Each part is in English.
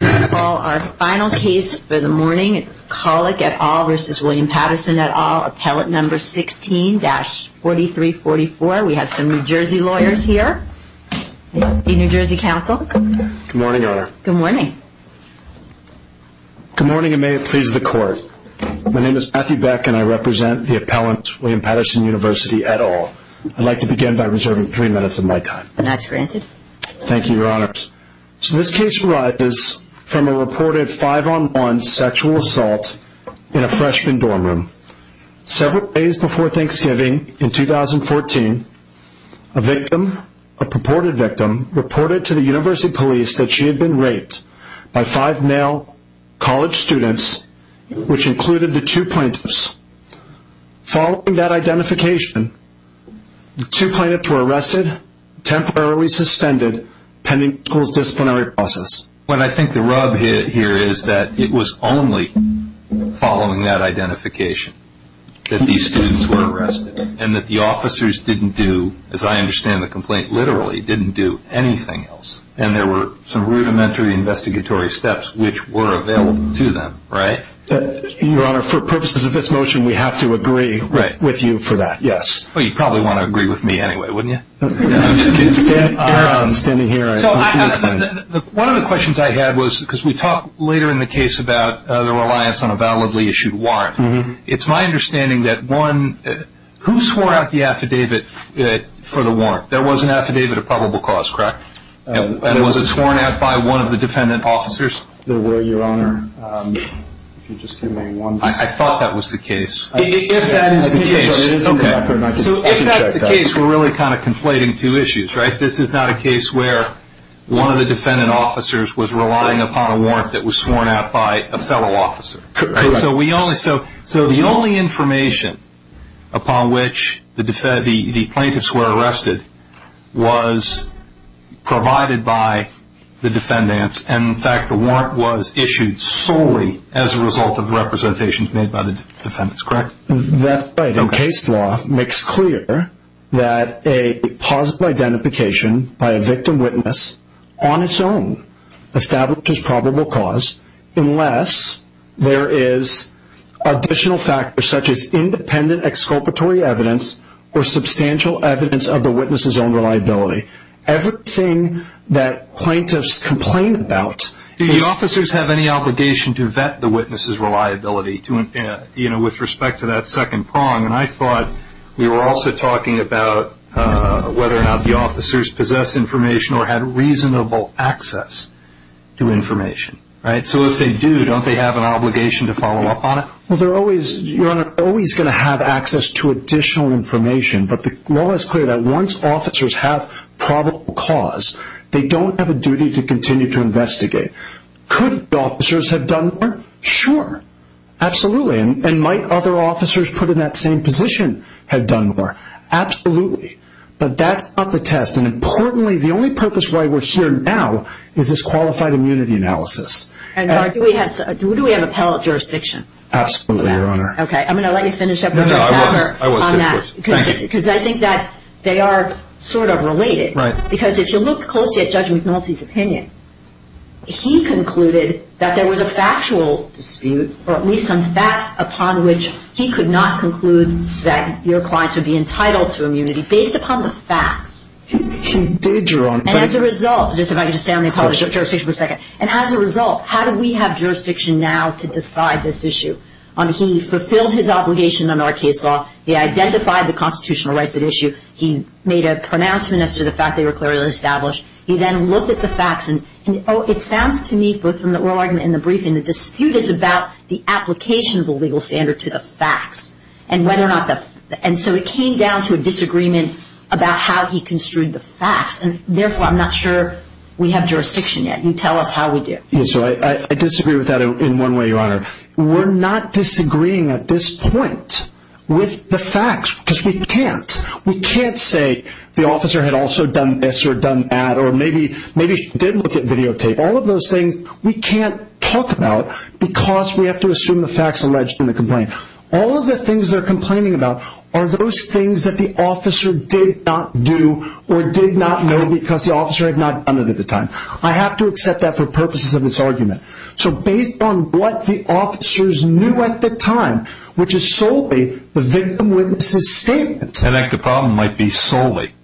Our final case for the morning is Collick, et al. v. William Patterson, et al. Appellate number 16-4344. We have some New Jersey lawyers here, the New Jersey Council. Good morning, Your Honor. Good morning. Good morning, and may it please the Court. My name is Matthew Beck, and I represent the appellant, William Patterson, University, et al. I'd like to begin by reserving three minutes of my time. That's granted. Thank you, Your Honor. So this case arises from a reported five-on-one sexual assault in a freshman dorm room. Several days before Thanksgiving in 2014, a victim, a purported victim, reported to the University Police that she had been raped by five male college students, which included the two plaintiffs. Following that identification, the two plaintiffs were arrested, temporarily suspended, pending the school's disciplinary process. What I think the rub here is that it was only following that identification that these students were arrested, and that the officers didn't do, as I understand the complaint literally, didn't do anything else. And there were some rudimentary investigatory steps which were available to them, right? Your Honor, for purposes of this motion, we have to agree with you for that, yes. Well, you'd probably want to agree with me anyway, wouldn't you? No, I'm just kidding. Standing here, I agree with him. One of the questions I had was, because we talked later in the case about the reliance on a validly issued warrant. It's my understanding that one, who swore out the affidavit for the warrant? There was an affidavit of probable cause, correct? And was it sworn out by one of the defendant officers? There were, Your Honor. I thought that was the case. If that is the case, we're really kind of conflating two issues, right? This is not a case where one of the defendant officers was relying upon a warrant that was sworn out by a fellow officer. So the only information upon which the plaintiffs were arrested was provided by the defendants, and, in fact, the warrant was issued solely as a result of representations made by the defendants, correct? That's right. And case law makes clear that a possible identification by a victim witness on its own establishes probable cause unless there is additional factors such as independent exculpatory evidence or substantial evidence of the witness's own reliability. Everything that plaintiffs complain about is- Do the officers have any obligation to vet the witness's reliability with respect to that second prong? And I thought we were also talking about whether or not the officers possessed information or had reasonable access to information, right? So if they do, don't they have an obligation to follow up on it? Well, Your Honor, they're always going to have access to additional information, but the law is clear that once officers have probable cause, they don't have a duty to continue to investigate. Could the officers have done more? Sure, absolutely. And might other officers put in that same position have done more? Absolutely. But that's not the test. And, importantly, the only purpose why we're here now is this qualified immunity analysis. And do we have appellate jurisdiction? Absolutely, Your Honor. Okay. I'm going to let you finish up with your answer on that. Of course, thank you. Because I think that they are sort of related. Right. Because if you look closely at Judge McNulty's opinion, he concluded that there was a factual dispute, or at least some facts upon which he could not conclude that your clients would be entitled to immunity based upon the facts. He did, Your Honor. And as a result, just if I could just stay on the appellate jurisdiction for a second. And as a result, how do we have jurisdiction now to decide this issue? He fulfilled his obligation under our case law. He identified the constitutional rights at issue. He made a pronouncement as to the fact they were clearly established. He then looked at the facts. And it sounds to me, both from the oral argument and the briefing, the dispute is about the application of the legal standard to the facts. And so it came down to a disagreement about how he construed the facts. And, therefore, I'm not sure we have jurisdiction yet. I disagree with that in one way, Your Honor. We're not disagreeing at this point with the facts because we can't. We can't say the officer had also done this or done that or maybe she did look at videotape. All of those things we can't talk about because we have to assume the facts alleged in the complaint. All of the things they're complaining about are those things that the officer did not do or did not know because the officer had not done it at the time. I have to accept that for purposes of this argument. So based on what the officers knew at the time, which is solely the victim-witness's statement. An active problem might be solely,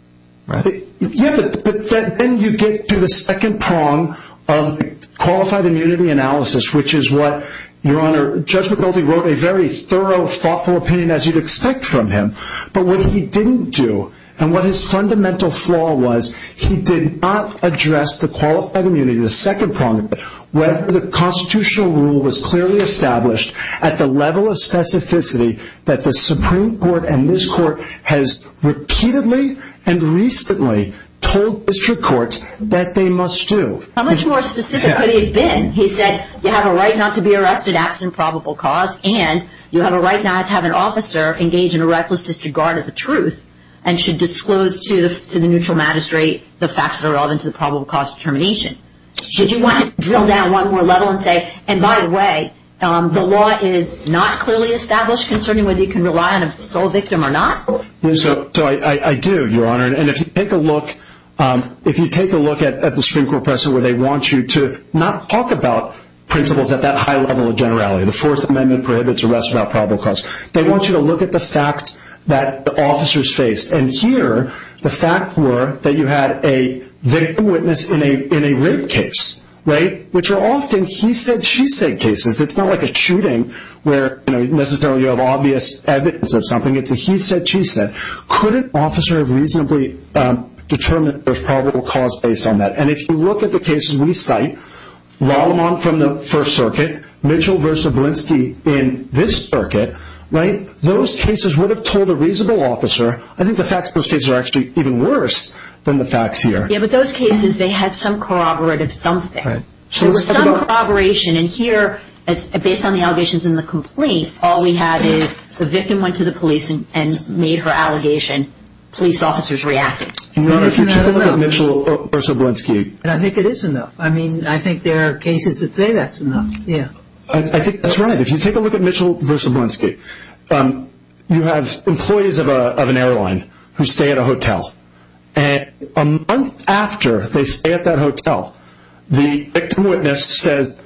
right? Yeah, but then you get to the second prong of qualified immunity analysis, which is what, Your Honor, Judge McCulty wrote a very thorough, thoughtful opinion, as you'd expect from him. But what he didn't do and what his fundamental flaw was, he did not address the qualified immunity, the second prong of it, whether the constitutional rule was clearly established at the level of specificity that the Supreme Court and this Court has repeatedly and recently told district courts that they must do. How much more specific could he have been? He said you have a right not to be arrested absent probable cause and you have a right not to have an officer engage in a reckless disregard of the truth and should disclose to the neutral magistrate the facts that are relevant to the probable cause determination. Should you want to drill down one more level and say, and by the way, the law is not clearly established concerning whether you can rely on a sole victim or not? So I do, Your Honor, and if you take a look at the Supreme Court precedent where they want you to not talk about principles at that high level of generality, the Fourth Amendment prohibits arrest without probable cause, they want you to look at the facts that the officers faced. And here, the facts were that you had a victim witness in a rape case, right, which are often he said, she said cases. It's not like a shooting where, you know, necessarily you have obvious evidence of something. It's a he said, she said. Could an officer have reasonably determined there's probable cause based on that? And if you look at the cases we cite, Lallemand from the First Circuit, Mitchell v. Blinsky in this circuit, right, those cases would have told a reasonable officer, I think the facts of those cases are actually even worse than the facts here. Yeah, but those cases, they had some corroborative something. There was some corroboration. And here, based on the allegations in the complaint, all we have is the victim went to the police and made her allegation. Police officers reacted. Your Honor, if you take a look at Mitchell v. Blinsky. And I think it is enough. I mean, I think there are cases that say that's enough, yeah. I think that's right. If you take a look at Mitchell v. Blinsky, you have employees of an airline who stay at a hotel. And a month after they stay at that hotel, the victim witness says,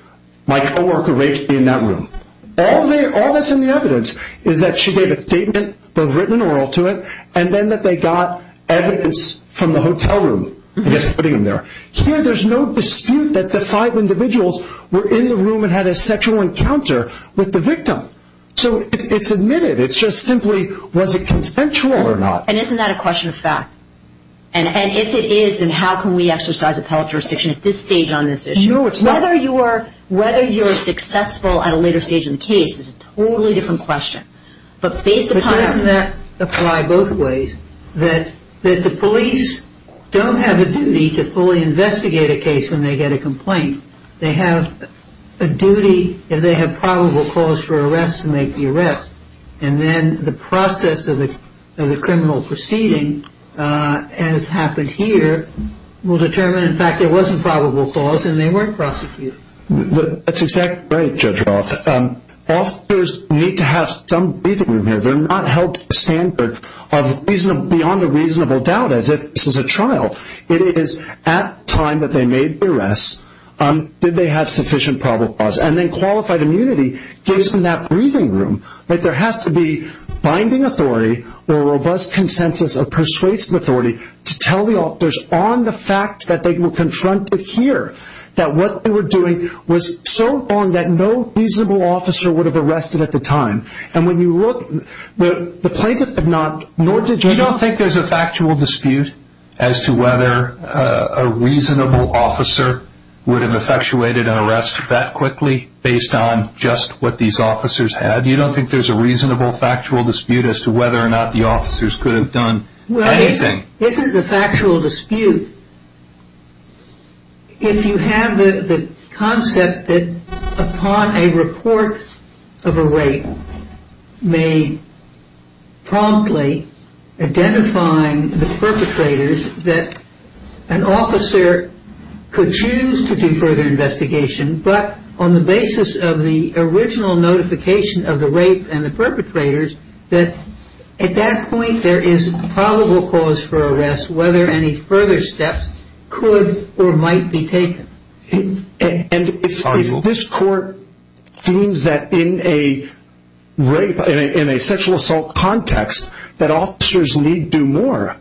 my coworker raped me in that room. All that's in the evidence is that she gave a statement, both written and oral, to it, and then that they got evidence from the hotel room that's putting them there. Here, there's no dispute that the five individuals were in the room and had a sexual encounter with the victim. So it's admitted. It's just simply was it consensual or not. And isn't that a question of fact? And if it is, then how can we exercise appellate jurisdiction at this stage on this issue? No, it's not. Whether you're successful at a later stage in the case is a totally different question. But doesn't that apply both ways? That the police don't have a duty to fully investigate a case when they get a complaint. They have a duty if they have probable cause for arrest to make the arrest. And then the process of the criminal proceeding, as happened here, will determine, in fact, there was a probable cause and they weren't prosecuted. That's exactly right, Judge Roth. Officers need to have some breathing room here. They're not held to the standard of beyond a reasonable doubt as if this is a trial. It is at time that they made the arrest, did they have sufficient probable cause? And then qualified immunity gives them that breathing room. There has to be binding authority or a robust consensus of persuasive authority to tell the officers on the fact that they were confronted here, that what they were doing was so wrong that no reasonable officer would have arrested at the time. And when you look, the plaintiff did not, nor did Judge Roth. You don't think there's a factual dispute as to whether a reasonable officer would have effectuated an arrest that quickly based on just what these officers had? You don't think there's a reasonable factual dispute as to whether or not the officers could have done anything? This isn't the factual dispute. If you have the concept that upon a report of a rape may promptly identifying the perpetrators, that an officer could choose to do further investigation but on the basis of the original notification of the rape and the perpetrators, that at that point there is probable cause for arrest whether any further steps could or might be taken. And if this court deems that in a rape, in a sexual assault context, that officers need do more,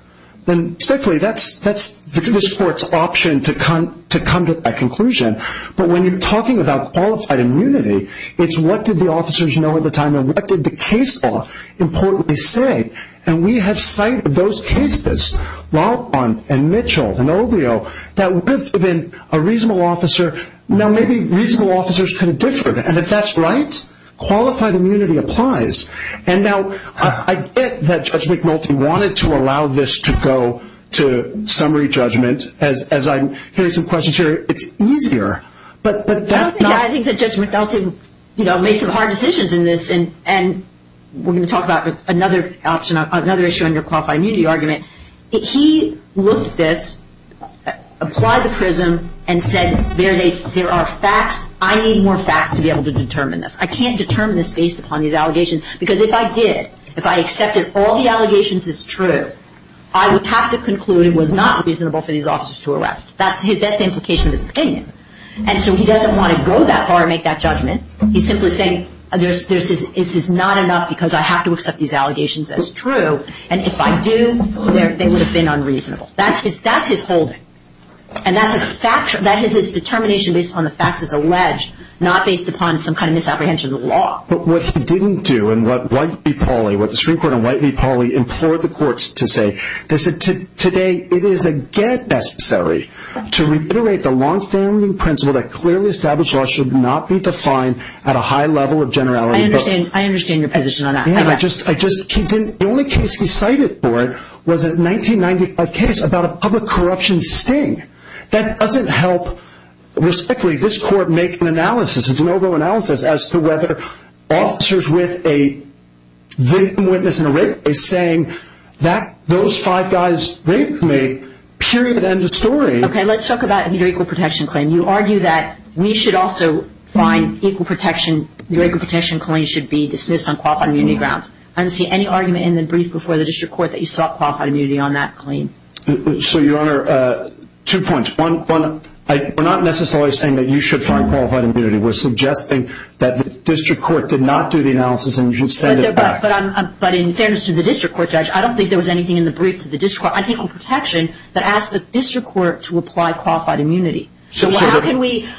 then respectfully that's this court's option to come to that conclusion. But when you're talking about qualified immunity, it's what did the officers know at the time and what did the case law importantly say? And we have sight of those cases, Laupan and Mitchell and Ovio, that would have been a reasonable officer. Now maybe reasonable officers could have differed. And if that's right, qualified immunity applies. And now I get that Judge McNulty wanted to allow this to go to summary judgment. As I'm hearing some questions here, it's easier. But that's not. I think that Judge McNulty made some hard decisions in this. And we're going to talk about another option, another issue under qualified immunity argument. He looked at this, applied the prism, and said there are facts. I need more facts to be able to determine this. I can't determine this based upon these allegations because if I did, if I accepted all the allegations as true, I would have to conclude it was not reasonable for these officers to arrest. That's the implication of his opinion. And so he doesn't want to go that far and make that judgment. He's simply saying this is not enough because I have to accept these allegations as true. And if I do, they would have been unreasonable. That's his holding. And that is his determination based upon the facts as alleged, not based upon some kind of misapprehension of the law. But what he didn't do and what White v. Pauley, what the Supreme Court and White v. Pauley implored the courts to say, they said today it is again necessary to reiterate the longstanding principle that clearly established law should not be defined at a high level of generality. I understand your position on that. The only case he cited for it was a 1995 case about a public corruption sting. That doesn't help respectfully this court make an analysis, a de novo analysis, as to whether officers with a victim witness and a rape case saying that those five guys raped me, period, end of story. Okay, let's talk about your equal protection claim. You argue that we should also find equal protection, your equal protection claim should be dismissed on qualified immunity grounds. I didn't see any argument in the brief before the district court that you sought qualified immunity on that claim. So, Your Honor, two points. One, we're not necessarily saying that you should find qualified immunity. We're suggesting that the district court did not do the analysis and you should send it back. But in fairness to the district court, Judge, I don't think there was anything in the brief to the district court. I think it was protection that asked the district court to apply qualified immunity. So how can we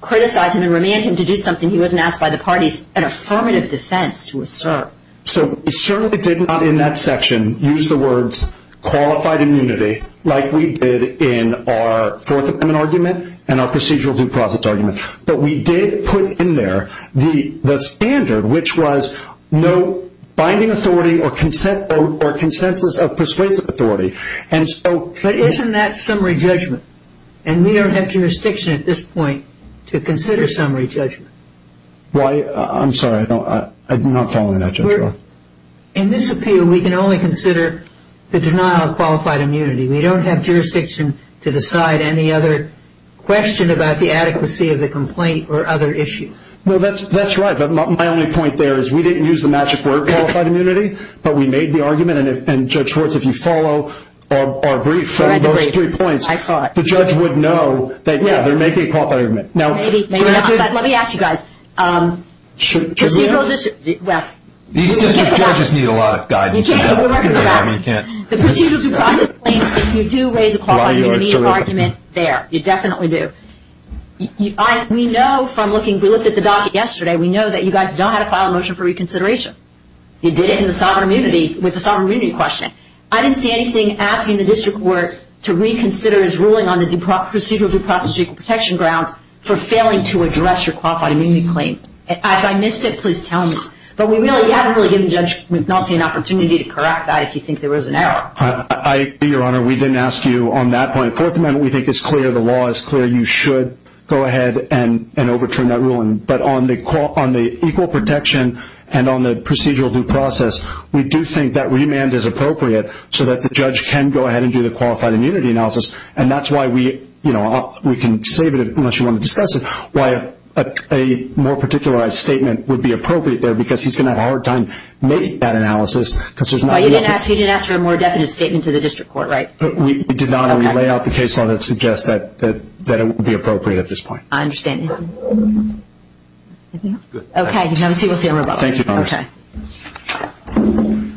criticize him and remand him to do something he wasn't asked by the parties, an affirmative defense to assert? So we certainly did not in that section use the words qualified immunity like we did in our Fourth Amendment argument and our procedural due process argument. But we did put in there the standard, which was no binding authority or consensus of persuasive authority. But isn't that summary judgment? And we don't have jurisdiction at this point to consider summary judgment. I'm sorry. I'm not following that, Judge. In this appeal, we can only consider the denial of qualified immunity. We don't have jurisdiction to decide any other question about the adequacy of the complaint or other issues. Well, that's right. But my only point there is we didn't use the magic word qualified immunity, but we made the argument. And, Judge Schwartz, if you follow our brief from those three points, the judge would know that, yeah, there may be a qualified immunity. Maybe, maybe not. But let me ask you guys. Should we? These district courts need a lot of guidance. The procedural due process claims, you do raise a qualified immunity argument there. You definitely do. We know from looking – we looked at the docket yesterday. We know that you guys know how to file a motion for reconsideration. You did it with the sovereign immunity question. I didn't see anything asking the district court to reconsider its ruling on the procedural due process equal protection grounds for failing to address your qualified immunity claim. If I missed it, please tell me. But we haven't really given Judge McNulty an opportunity to correct that if you think there was an error. I agree, Your Honor. We didn't ask you on that point. Fourth Amendment we think is clear. The law is clear. You should go ahead and overturn that ruling. But on the equal protection and on the procedural due process, we do think that remand is appropriate so that the judge can go ahead and do the qualified immunity analysis. And that's why we can save it, unless you want to discuss it, why a more particularized statement would be appropriate there because he's going to have a hard time making that analysis. Well, you didn't ask for a more definite statement to the district court, right? We did not. And we lay out the case law that suggests that it would be appropriate at this point. I understand. Okay. We'll see you in a little while. Thank you, Your Honor. Okay.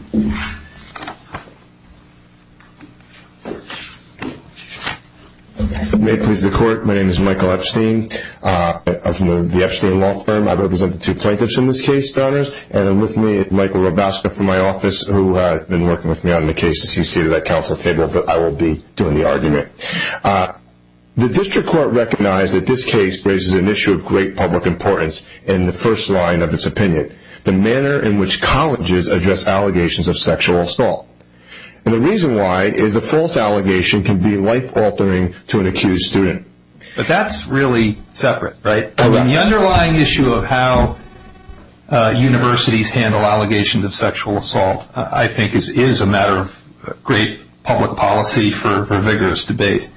May it please the Court, my name is Michael Epstein. I'm from the Epstein Law Firm. I represent the two plaintiffs in this case, Your Honors. And with me is Michael Robasco from my office who has been working with me on the cases. He's seated at council table, but I will be doing the argument. The district court recognized that this case raises an issue of great public importance in the first line of its opinion, the manner in which colleges address allegations of sexual assault. And the reason why is a false allegation can be life-altering to an accused student. But that's really separate, right? The underlying issue of how universities handle allegations of sexual assault, I think, is a matter of great public policy for vigorous debate.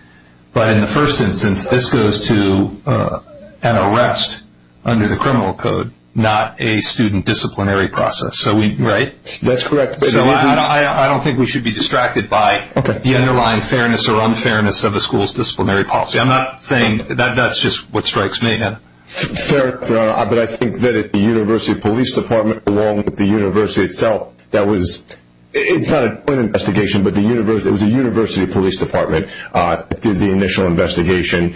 But in the first instance, this goes to an arrest under the criminal code, not a student disciplinary process. Right? That's correct. I don't think we should be distracted by the underlying fairness or unfairness of a school's disciplinary policy. I'm not saying that. That's just what strikes me. Fair, Your Honor. But I think that if the university police department, along with the university itself, that was – it's not a joint investigation, but it was a university police department that did the initial investigation.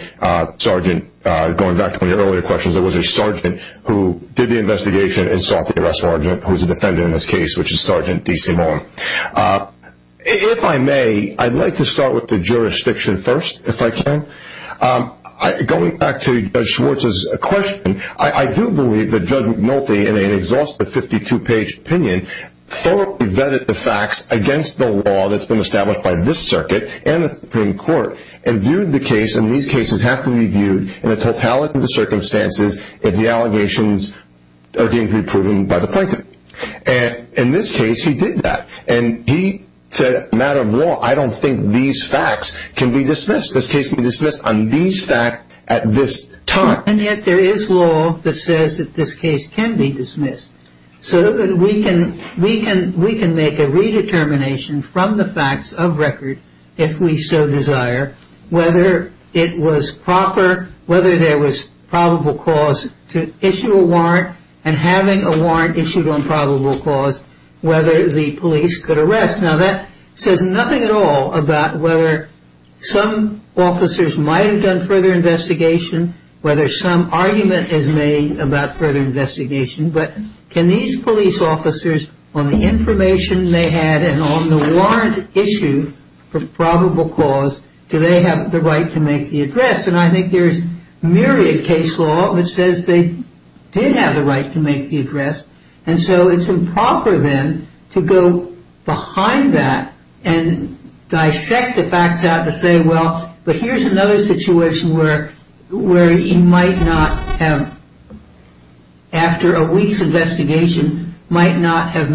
Sergeant, going back to my earlier questions, it was a sergeant who did the investigation and sought the arrest of a sergeant who was a defendant in this case, which is Sergeant D.C. Mullen. If I may, I'd like to start with the jurisdiction first, if I can. Going back to Judge Schwartz's question, I do believe that Judge McNulty, in an exhaustive 52-page opinion, thoroughly vetted the facts against the law that's been established by this circuit and the Supreme Court and viewed the case, and these cases have to be viewed in a totality of the circumstances, if the allegations are going to be proven by the plaintiff. And in this case, he did that. And he said, matter of law, I don't think these facts can be dismissed. This case can be dismissed on these facts at this time. And yet there is law that says that this case can be dismissed. So we can make a redetermination from the facts of record, if we so desire, whether it was proper, whether there was probable cause to issue a warrant, and having a warrant issued on probable cause, whether the police could arrest. Now, that says nothing at all about whether some officers might have done further investigation, whether some argument is made about further investigation. But can these police officers, on the information they had and on the warrant issued for probable cause, do they have the right to make the address? And I think there's myriad case law that says they did have the right to make the address. And so it's improper, then, to go behind that and dissect the facts out to say, well, but here's another situation where he might not have, after a week's investigation, might not have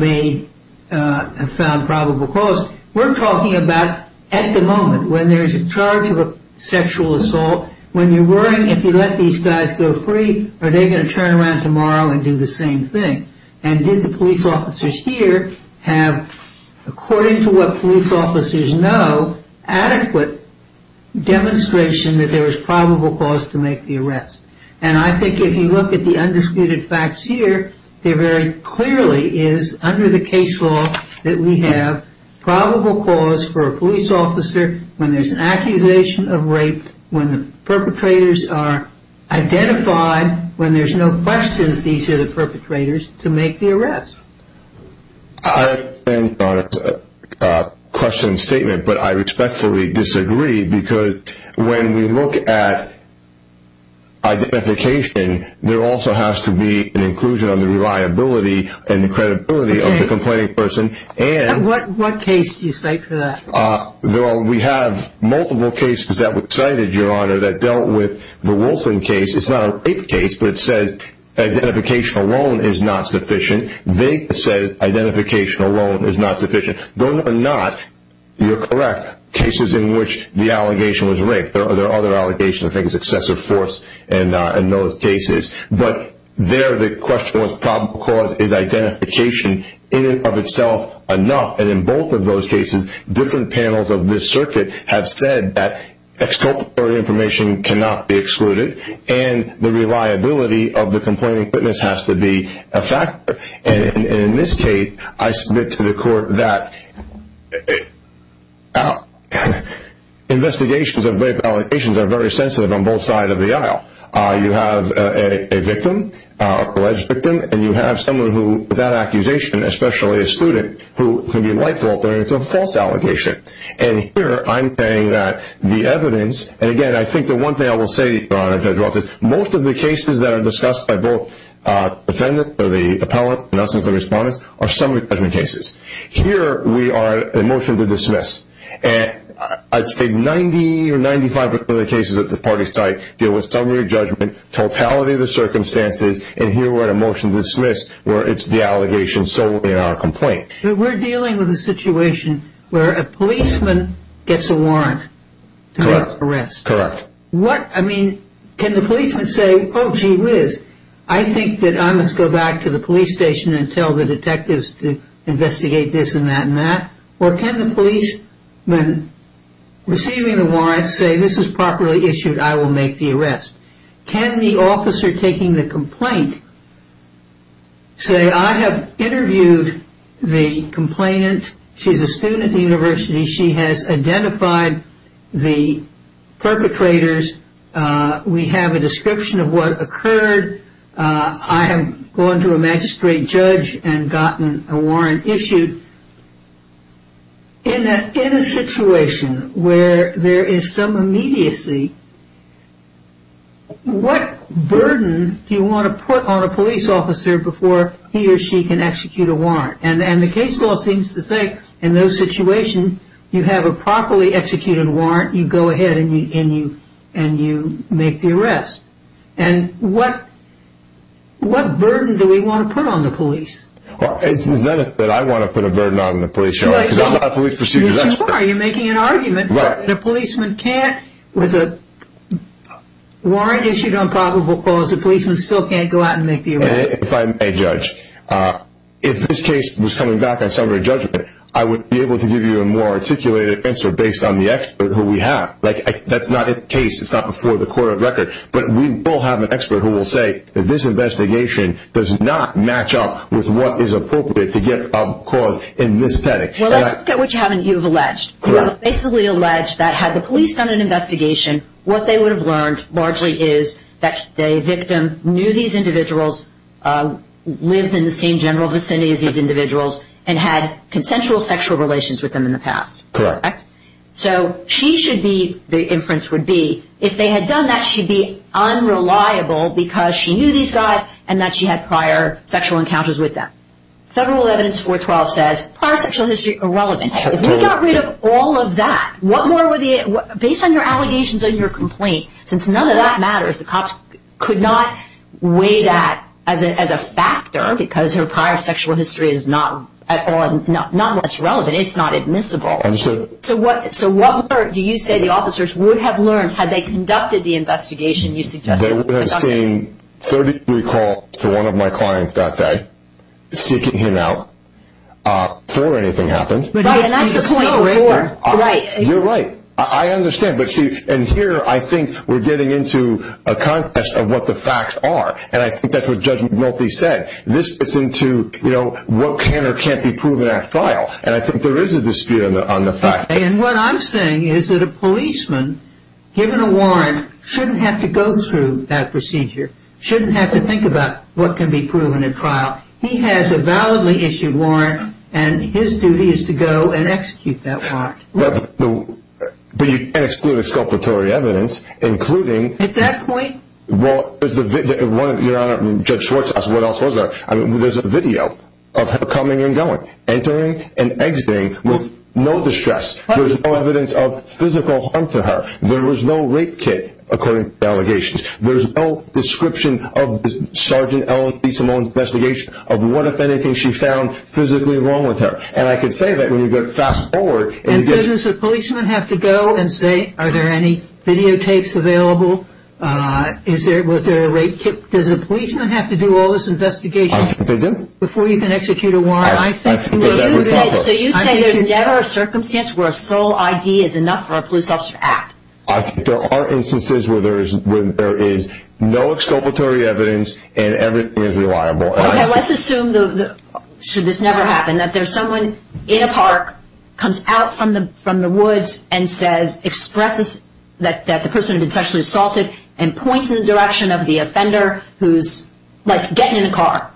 found probable cause. We're talking about, at the moment, when there's a charge of a sexual assault, when you're worrying if you let these guys go free, are they going to turn around tomorrow and do the same thing? And did the police officers here have, according to what police officers know, adequate demonstration that there was probable cause to make the arrest? And I think if you look at the undisputed facts here, there very clearly is, under the case law, that we have probable cause for a police officer when there's an accusation of rape, when the perpetrators are identified, when there's no question that these are the perpetrators, to make the arrest. I understand Donna's question and statement, but I respectfully disagree because when we look at identification, there also has to be an inclusion of the reliability and the credibility of the complaining person. And what case do you cite for that? Well, we have multiple cases that were cited, Your Honor, that dealt with the Wolfson case. It's not a rape case, but it says identification alone is not sufficient. They said identification alone is not sufficient. Those are not, you're correct, cases in which the allegation was rape. There are other allegations, I think it's excessive force in those cases. But there the question was probable cause is identification in and of itself enough. And in both of those cases, different panels of this circuit have said that exculpatory information cannot be excluded and the reliability of the complaining witness has to be a factor. And in this case, I submit to the court that investigations of rape allegations are very sensitive on both sides of the aisle. You have a victim, alleged victim, and you have someone who, with that accusation, especially a student, who can be light-faulted and it's a false allegation. And here I'm saying that the evidence, and again, I think the one thing I will say, Your Honor, Judge Wolfson, is that most of the cases that are discussed by both the defendant or the appellant, and us as the respondents, are summary judgment cases. Here we are at a motion to dismiss. I'd say 90 or 95% of the cases at the party site deal with summary judgment, totality of the circumstances, and here we're at a motion to dismiss where it's the allegation solely in our complaint. But we're dealing with a situation where a policeman gets a warrant to make an arrest. Correct. What, I mean, can the policeman say, oh, gee whiz, I think that I must go back to the police station and tell the detectives to investigate this and that and that? Or can the policeman receiving the warrant say, this is properly issued, I will make the arrest? Can the officer taking the complaint say, I have interviewed the complainant, she's a student at the university, she has identified the perpetrators, we have a description of what occurred, I have gone to a magistrate judge and gotten a warrant issued. In a situation where there is some immediacy, what burden do you want to put on a police officer before he or she can execute a warrant? And the case law seems to say, in those situations, you have a properly executed warrant, you go ahead and you make the arrest. And what burden do we want to put on the police? Well, it's the benefit I want to put a burden on the police, because I'm not a police procedure expert. You're making an argument that a policeman can't, with a warrant issued on probable cause, and if I may judge, if this case was coming back on summary judgment, I would be able to give you a more articulated answer based on the expert who we have. That's not in the case, it's not before the court of record, but we will have an expert who will say that this investigation does not match up with what is appropriate to get a cause in this setting. Well, let's look at what you have alleged. You have basically alleged that had the police done an investigation, what they would have learned largely is that the victim knew these individuals, lived in the same general vicinity as these individuals, and had consensual sexual relations with them in the past. Correct. So she should be, the inference would be, if they had done that, she'd be unreliable because she knew these guys and that she had prior sexual encounters with them. Federal Evidence 412 says prior sexual history irrelevant. If we got rid of all of that, what more would the, based on your allegations and your complaint, since none of that matters, the cops could not weigh that as a factor because her prior sexual history is not at all, not what's relevant, it's not admissible. So what do you say the officers would have learned had they conducted the investigation you suggested? They would have seen 30 recalls to one of my clients that day, seeking him out before anything happened. Right, and that's the point. You're right, I understand, but see, and here I think we're getting into a contest of what the facts are, and I think that's what Judge Multi said. This gets into, you know, what can or can't be proven at trial, and I think there is a dispute on the fact. And what I'm saying is that a policeman, given a warrant, shouldn't have to go through that procedure, shouldn't have to think about what can be proven at trial. He has a validly issued warrant, and his duty is to go and execute that warrant. But you can't exclude exculpatory evidence, including... At that point... Your Honor, Judge Schwartz asked what else was there. There's a video of her coming and going, entering and exiting with no distress. There's no evidence of physical harm to her. There was no rape kit, according to the allegations. There's no description of Sergeant Ellen B. Simone's investigation of what, if anything, she found physically wrong with her. And I can say that when you fast forward... And so does a policeman have to go and say, are there any videotapes available? Was there a rape kit? Does a policeman have to do all this investigation before you can execute a warrant? I think... So you say there's never a circumstance where a sole ID is enough for a police officer to act. I think there are instances where there is no exculpatory evidence and everything is reliable. Okay, let's assume, should this never happen, that there's someone in a park, comes out from the woods and says, expresses that the person had been sexually assaulted and points in the direction of the offender who's, like, getting in a car.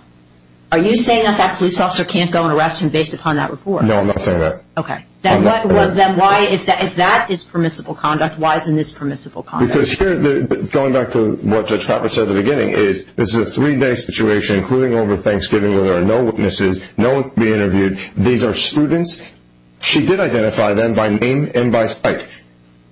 Are you saying that that police officer can't go and arrest him based upon that report? No, I'm not saying that. Okay. Then why, if that is permissible conduct, why isn't this permissible conduct? Because here, going back to what Judge Crawford said at the beginning, is this is a three-day situation, including over Thanksgiving, where there are no witnesses, no one can be interviewed. These are students. She did identify them by name and by sight.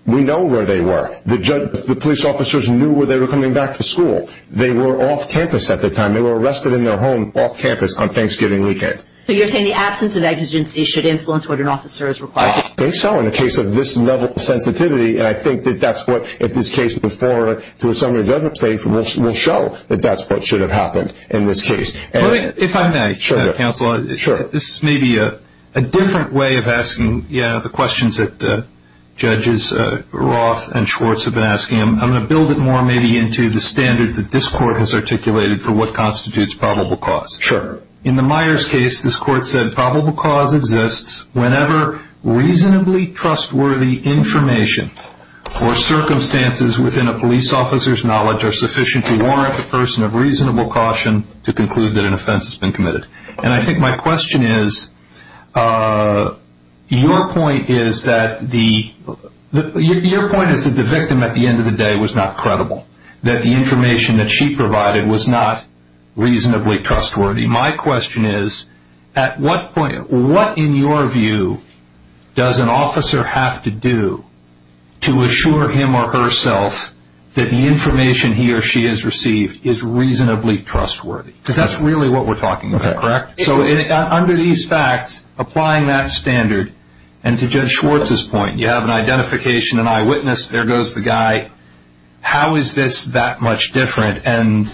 We know where they were. The police officers knew where they were coming back to school. They were off campus at the time. They were arrested in their home off campus on Thanksgiving weekend. So you're saying the absence of exigency should influence what an officer is required to do? I think so, in the case of this level of sensitivity, and I think that that's what, if this case is put forward to a summary judgment stage, will show that that's what should have happened in this case. If I may, Counsel, this may be a different way of asking the questions that judges Roth and Schwartz have been asking. I'm going to build it more maybe into the standard that this Court has articulated for what constitutes probable cause. Sure. In the Myers case, this Court said probable cause exists whenever reasonably trustworthy information or circumstances within a police officer's knowledge are sufficient to warrant the person of reasonable caution to conclude that an offense has been committed. And I think my question is, your point is that the victim at the end of the day was not credible, that the information that she provided was not reasonably trustworthy. My question is, at what point, what in your view does an officer have to do to assure him or herself that the information he or she has received is reasonably trustworthy? Because that's really what we're talking about, correct? So under these facts, applying that standard, and to Judge Schwartz's point, you have an identification, an eyewitness, there goes the guy. How is this that much different? And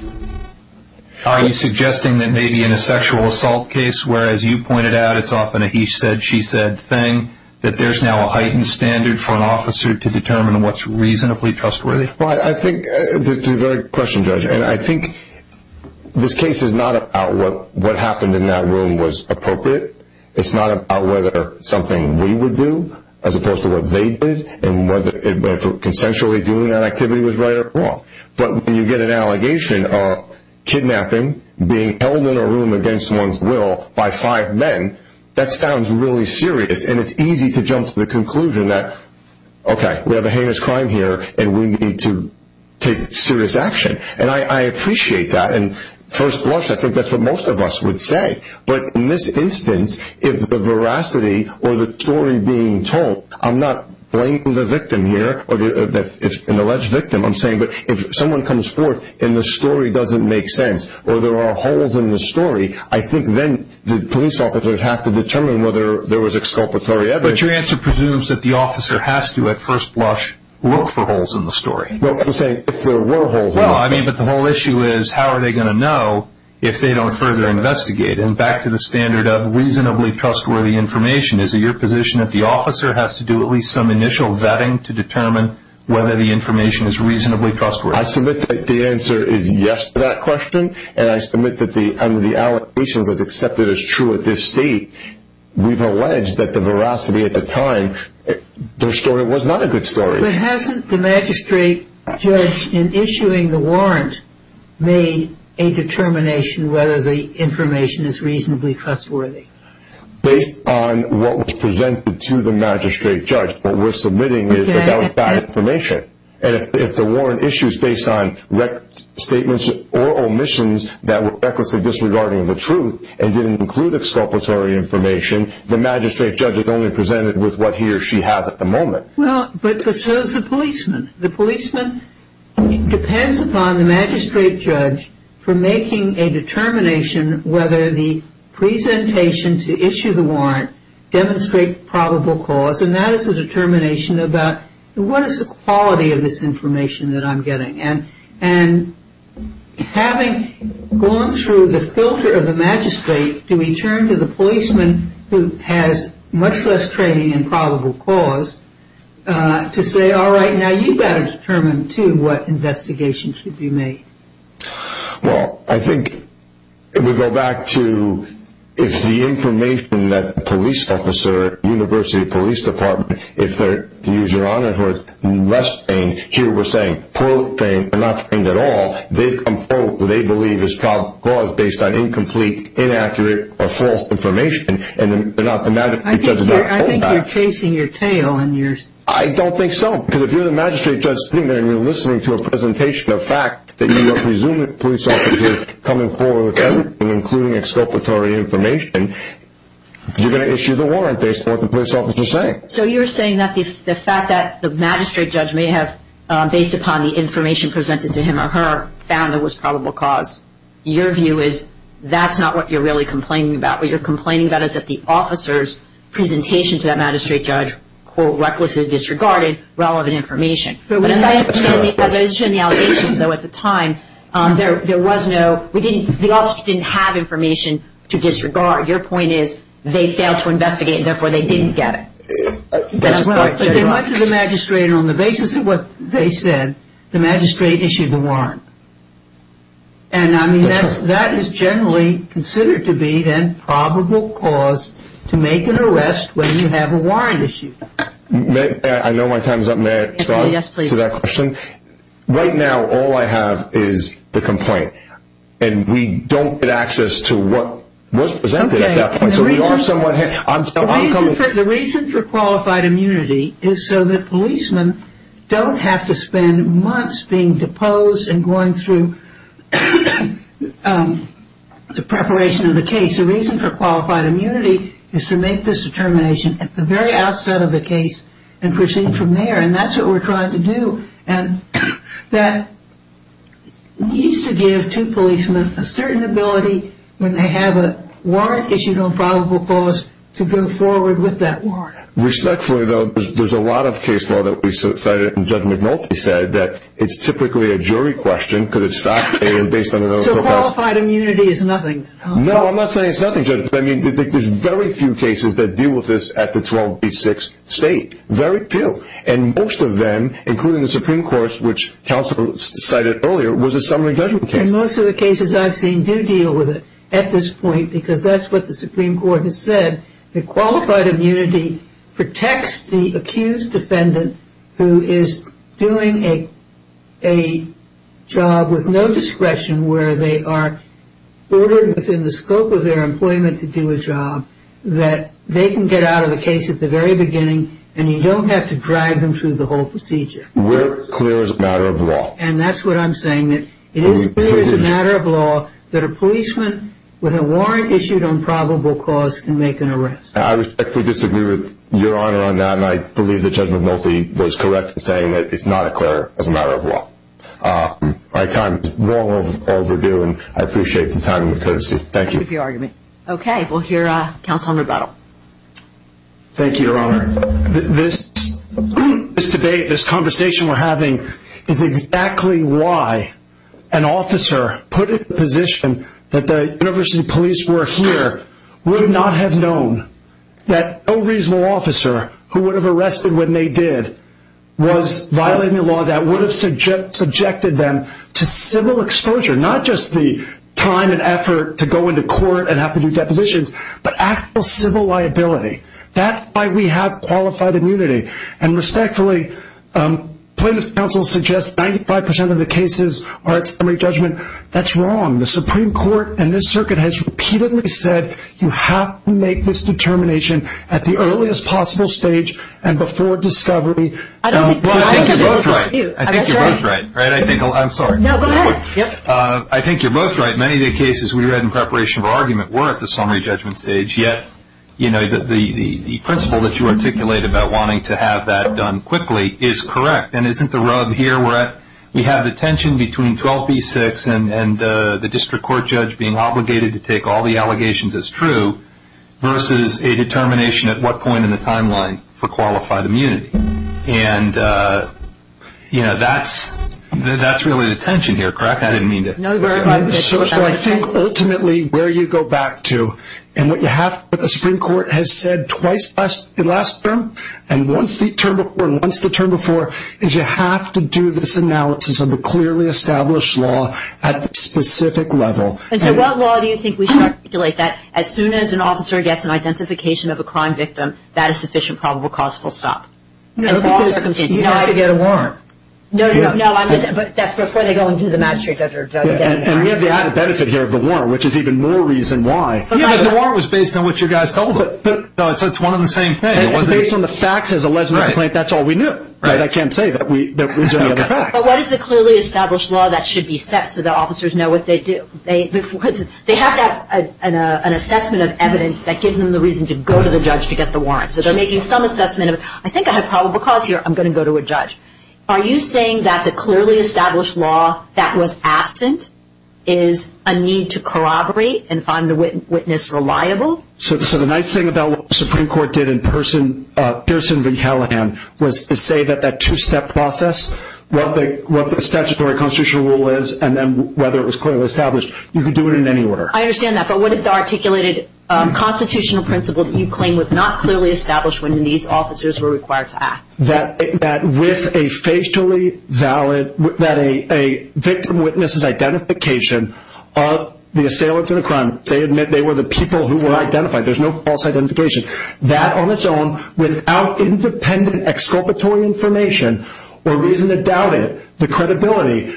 are you suggesting that maybe in a sexual assault case, where, as you pointed out, it's often a he said, she said thing, that there's now a heightened standard for an officer to determine what's reasonably trustworthy? Well, I think that's a very good question, Judge. And I think this case is not about what happened in that room was appropriate. It's not about whether something we would do, as opposed to what they did, and whether consensually doing that activity was right or wrong. But when you get an allegation of kidnapping, being held in a room against one's will by five men, that sounds really serious, and it's easy to jump to the conclusion that, okay, we have a heinous crime here, and we need to take serious action. And I appreciate that, and first blush, I think that's what most of us would say. But in this instance, if the veracity or the story being told, I'm not blaming the victim here. It's an alleged victim, I'm saying. But if someone comes forth and the story doesn't make sense or there are holes in the story, I think then the police officers have to determine whether there was exculpatory evidence. But your answer presumes that the officer has to, at first blush, look for holes in the story. Well, I'm saying if there were holes in the story. Well, I mean, but the whole issue is how are they going to know if they don't further investigate? And back to the standard of reasonably trustworthy information, is it your position that the officer has to do at least some initial vetting to determine whether the information is reasonably trustworthy? I submit that the answer is yes to that question, and I submit that under the allegations as accepted as true at this state, we've alleged that the veracity at the time, their story was not a good story. But hasn't the magistrate judge in issuing the warrant made a determination whether the information is reasonably trustworthy? Based on what was presented to the magistrate judge. What we're submitting is that that was bad information. And if the warrant issues based on statements or omissions that were recklessly disregarding the truth and didn't include exculpatory information, the magistrate judge is only presented with what he or she has at the moment. Well, but so is the policeman. The policeman depends upon the magistrate judge for making a determination whether the presentation to issue the warrant demonstrate probable cause, and that is a determination about what is the quality of this information that I'm getting. And having gone through the filter of the magistrate to return to the policeman who has much less training in probable cause to say, all right, now you've got to determine, too, what investigation should be made. Well, I think if we go back to if the information that the police officer, University Police Department, if they're, to use your honor, who are less trained here were saying, quote, trained, but not trained at all, they believe is probable cause based on incomplete, inaccurate, or false information. And they're not the magistrate judge. I think you're chasing your tail. I don't think so, because if you're the magistrate judge sitting there and you're listening to a presentation of fact that you are presuming the police officer is coming forward with everything, including exculpatory information, you're going to issue the warrant based on what the police officer is saying. So you're saying that the fact that the magistrate judge may have, based upon the information presented to him or her, found it was probable cause, your view is that's not what you're really complaining about. What you're complaining about is that the officer's presentation to that magistrate judge, quote, recklessly disregarded relevant information. But as I understand the allegations, though, at the time, there was no, the officer didn't have information to disregard. Your point is they failed to investigate, and therefore they didn't get it. But they went to the magistrate, and on the basis of what they said, the magistrate issued the warrant. And, I mean, that is generally considered to be, then, probable cause to make an arrest when you have a warrant issued. I know my time is up. May I respond to that question? Right now, all I have is the complaint, and we don't get access to what was presented at that point. The reason for qualified immunity is so that policemen don't have to spend months being deposed and going through the preparation of the case. The reason for qualified immunity is to make this determination at the very outset of the case and proceed from there, and that's what we're trying to do. And that needs to give two policemen a certain ability, when they have a warrant issued on probable cause, to go forward with that warrant. Respectfully, though, there's a lot of case law that we cited, and Judge McNulty said that it's typically a jury question because it's fact-based. So qualified immunity is nothing? No, I'm not saying it's nothing, Judge. I mean, there's very few cases that deal with this at the 12B6 state, very few. And most of them, including the Supreme Court, which counsel cited earlier, was a summary judgment case. And most of the cases I've seen do deal with it at this point because that's what the Supreme Court has said, that qualified immunity protects the accused defendant who is doing a job with no discretion where they are ordered within the scope of their employment to do a job, that they can get out of the case at the very beginning and you don't have to drive them through the whole procedure. We're clear it's a matter of law. And that's what I'm saying, that it is clear it's a matter of law that a policeman with a warrant issued on probable cause can make an arrest. I respectfully disagree with Your Honor on that, and I believe that Judge McNulty was correct in saying that it's not a matter of law. My time is well overdue, and I appreciate the time and the courtesy. Thank you. Thank you for arguing. Okay, we'll hear counsel in rebuttal. Thank you, Your Honor. Your Honor, this debate, this conversation we're having, is exactly why an officer put in a position that the University Police were here would not have known that no reasonable officer who would have arrested when they did was violating the law that would have subjected them to civil exposure, not just the time and effort to go into court and have to do depositions, but actual civil liability. That's why we have qualified immunity. And respectfully, plaintiff's counsel suggests 95% of the cases are at summary judgment. That's wrong. The Supreme Court and this circuit has repeatedly said you have to make this determination at the earliest possible stage and before discovery. I think you're both right. I think you're both right. I'm sorry. No, go ahead. I think you're both right. Many of the cases we read in preparation for argument were at the summary judgment stage, yet the principle that you articulate about wanting to have that done quickly is correct. And isn't the rub here where we have the tension between 12b-6 and the district court judge being obligated to take all the allegations as true versus a determination at what point in the timeline for qualified immunity. And, you know, that's really the tension here, correct? I didn't mean to. So I think ultimately where you go back to, and what the Supreme Court has said twice in the last term and once the term before and once the term before, is you have to do this analysis of the clearly established law at the specific level. And so what law do you think we should articulate that as soon as an officer gets an identification of a crime victim, that is sufficient probable cause for stop? No, because you have to get a warrant. No, no, no. But that's before they go into the magistrate judge. And we have the added benefit here of the warrant, which is even more reason why. Yeah, but the warrant was based on what you guys told us. So it's one and the same thing. Based on the facts as alleged in the complaint, that's all we knew. Right. But I can't say that we didn't know the facts. But what is the clearly established law that should be set so the officers know what they do? They have to have an assessment of evidence that gives them the reason to go to the judge to get the warrant. So they're making some assessment of, I think I have probable cause here. I'm going to go to a judge. Are you saying that the clearly established law that was absent is a need to corroborate and find the witness reliable? So the nice thing about what the Supreme Court did in Pearson v. Hallahan was to say that that two-step process, what the statutory constitutional rule is, and then whether it was clearly established, you can do it in any order. I understand that. But what is the articulated constitutional principle that you claim was not clearly established when these officers were required to act? That with a facially valid, that a victim witnesses identification of the assailant to the crime, they admit they were the people who were identified. There's no false identification. That on its own, without independent exculpatory information or reason to doubt it, the credibility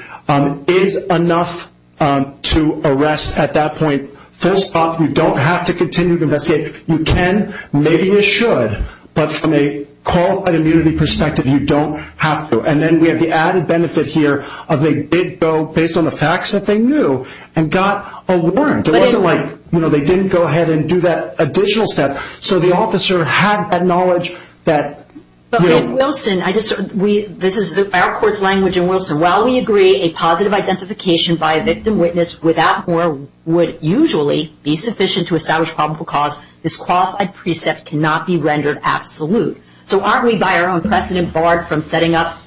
is enough to arrest at that point. First off, you don't have to continue to investigate. You can. Maybe you should. But from a qualified immunity perspective, you don't have to. And then we have the added benefit here of they did go based on the facts that they knew and got a warrant. It wasn't like, you know, they didn't go ahead and do that additional step. So the officer had that knowledge that, you know. But, Wilson, this is our court's language, and, Wilson, while we agree a positive identification by a victim witness without more would usually be sufficient to establish probable cause, this qualified precept cannot be rendered absolute. So aren't we by our own precedent barred from setting up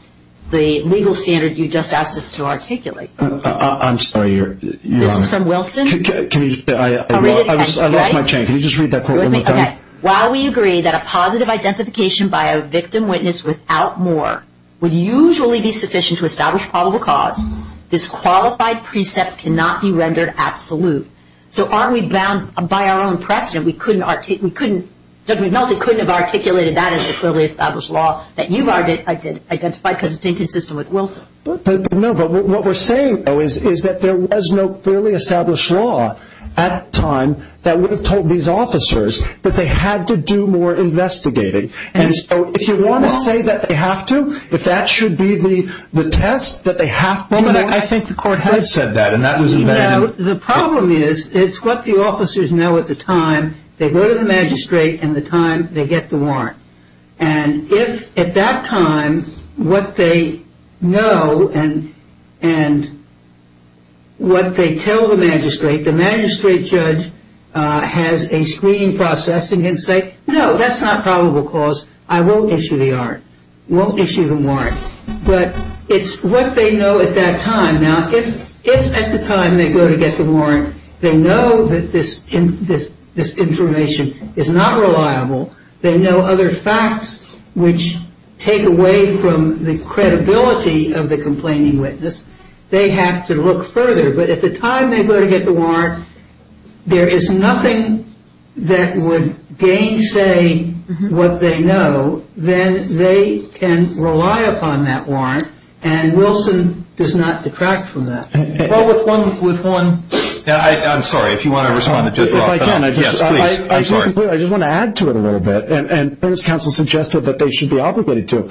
the legal standard you just asked us to articulate? I'm sorry, Your Honor. This is from Wilson? I lost my train. Can you just read that quote one more time? While we agree that a positive identification by a victim witness without more would usually be sufficient to establish probable cause, this qualified precept cannot be rendered absolute. So aren't we bound by our own precedent? We couldn't, Judge McNulty couldn't have articulated that as a clearly established law that you've identified because it's inconsistent with Wilson. No, but what we're saying, though, is that there was no clearly established law at the time that would have told these officers that they had to do more investigating. And so if you want to say that they have to, if that should be the test, that they have to. But I think the court has said that, and that was abandoned. No, the problem is it's what the officers know at the time they go to the magistrate and the time they get the warrant. And if at that time what they know and what they tell the magistrate, the magistrate judge has a screening process and can say, no, that's not probable cause, I won't issue the warrant, won't issue the warrant. But it's what they know at that time. Now, if at the time they go to get the warrant, they know that this information is not reliable, they know other facts which take away from the credibility of the complaining witness, they have to look further. But at the time they go to get the warrant, there is nothing that would gainsay what they know. So then they can rely upon that warrant, and Wilson does not detract from that. Well, with one... I'm sorry, if you want to respond to Judge Roth. Yes, please. I just want to add to it a little bit, and the witness counsel suggested that they should be obligated to.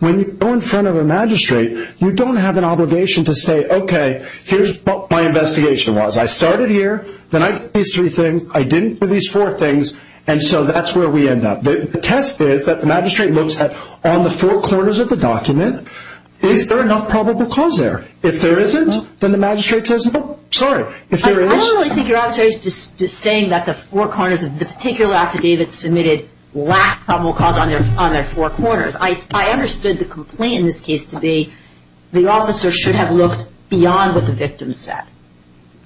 When you go in front of a magistrate, you don't have an obligation to say, okay, here's what my investigation was. I started here, then I did these three things, I didn't do these four things, and so that's where we end up. The test is that the magistrate looks at, on the four corners of the document, is there enough probable cause there? If there isn't, then the magistrate says, well, sorry, if there is... I don't really think your officer is just saying that the four corners of the particular affidavit submitted lack probable cause on their four corners. I understood the complaint in this case to be the officer should have looked beyond what the victim said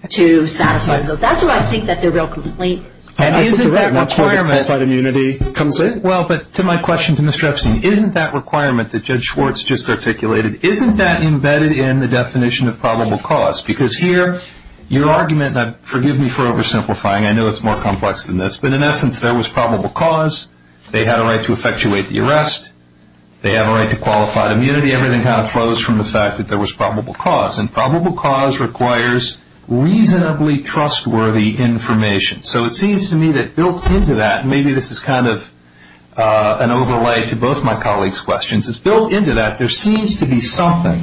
to satisfy. That's what I think that the real complaint is. And isn't that requirement... That's where the qualified immunity comes in. Well, but to my question to Mr. Epstein, isn't that requirement that Judge Schwartz just articulated, isn't that embedded in the definition of probable cause? Because here your argument, and forgive me for oversimplifying, I know it's more complex than this, but in essence there was probable cause, they had a right to effectuate the arrest, they have a right to qualified immunity, everything kind of flows from the fact that there was probable cause. And probable cause requires reasonably trustworthy information. So it seems to me that built into that, and maybe this is kind of an overlay to both my colleagues' questions, is built into that there seems to be something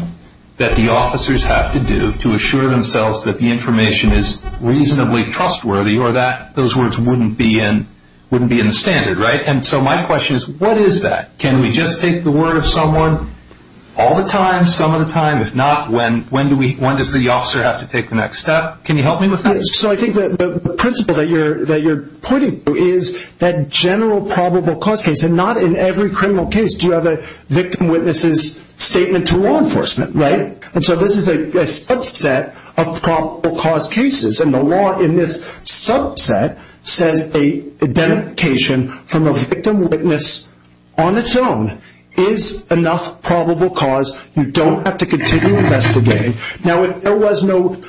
that the officers have to do to assure themselves that the information is reasonably trustworthy or that those words wouldn't be in the standard, right? And so my question is, what is that? Can we just take the word of someone all the time, some of the time? If not, when does the officer have to take the next step? Can you help me with that? So I think the principle that you're pointing to is that general probable cause case, and not in every criminal case do you have a victim-witnesses statement to law enforcement, right? And so this is a subset of probable cause cases, and the law in this subset says identification from a victim-witness on its own is enough probable cause, you don't have to continue investigating. Now, if there was no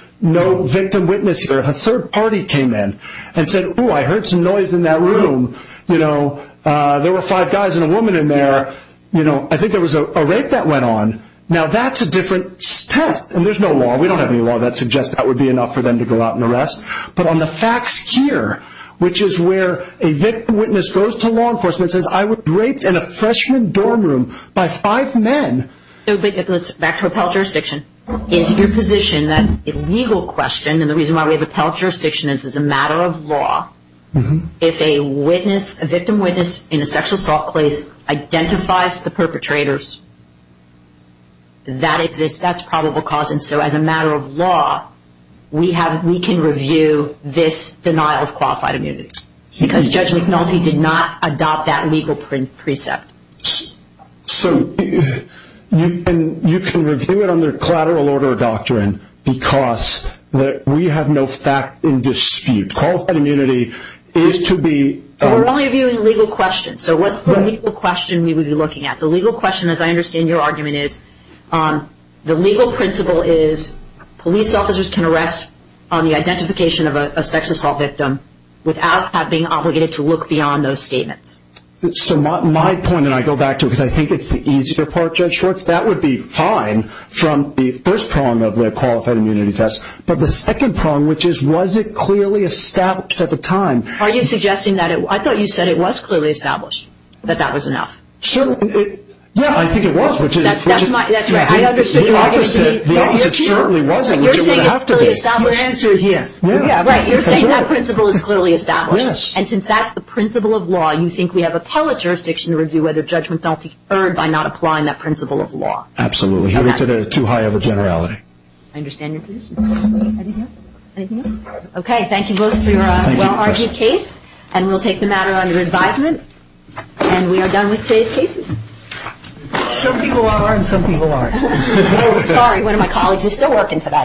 victim-witness here, if a third party came in and said, oh, I heard some noise in that room, you know, there were five guys and a woman in there, you know, I think there was a rape that went on, now that's a different test. And there's no law, we don't have any law that suggests that would be enough for them to go out and arrest. But on the facts here, which is where a victim-witness goes to law enforcement and says, I was raped in a freshman dorm room by five men. Back to appellate jurisdiction, is your position that a legal question, and the reason why we have appellate jurisdiction is as a matter of law, if a victim-witness in a sexual assault case identifies the perpetrators, that exists, that's probable cause. And so as a matter of law, we can review this denial of qualified immunity, because Judge McNulty did not adopt that legal precept. So you can review it under collateral order of doctrine, because we have no fact in dispute. Qualified immunity is to be... We're only reviewing legal questions, so what's the legal question we would be looking at? The legal question, as I understand your argument, is the legal principle is police officers can arrest on the identification of a sexual assault victim without being obligated to look beyond those statements. So my point, and I go back to it, because I think it's the easier part, Judge Schwartz, that would be fine from the first prong of the qualified immunity test. But the second prong, which is, was it clearly established at the time? Are you suggesting that it... I thought you said it was clearly established, that that was enough. Sure. Yeah, I think it was, which is... That's right. I understand your argument. The opposite, it certainly wasn't, which it would have to be. You're saying clearly established, your answer is yes. Yeah. Right, you're saying that principle is clearly established. Yes. And since that's the principle of law, you think we have appellate jurisdiction to review whether judgment felt deferred by not applying that principle of law. Absolutely. You're looking at too high of a generality. I understand your position. Anything else? Anything else? Okay, thank you both for your well-argued case, and we'll take the matter under advisement, and we are done with today's cases. Some people are, and some people aren't. Sorry, one of my colleagues is still working today. Thank you.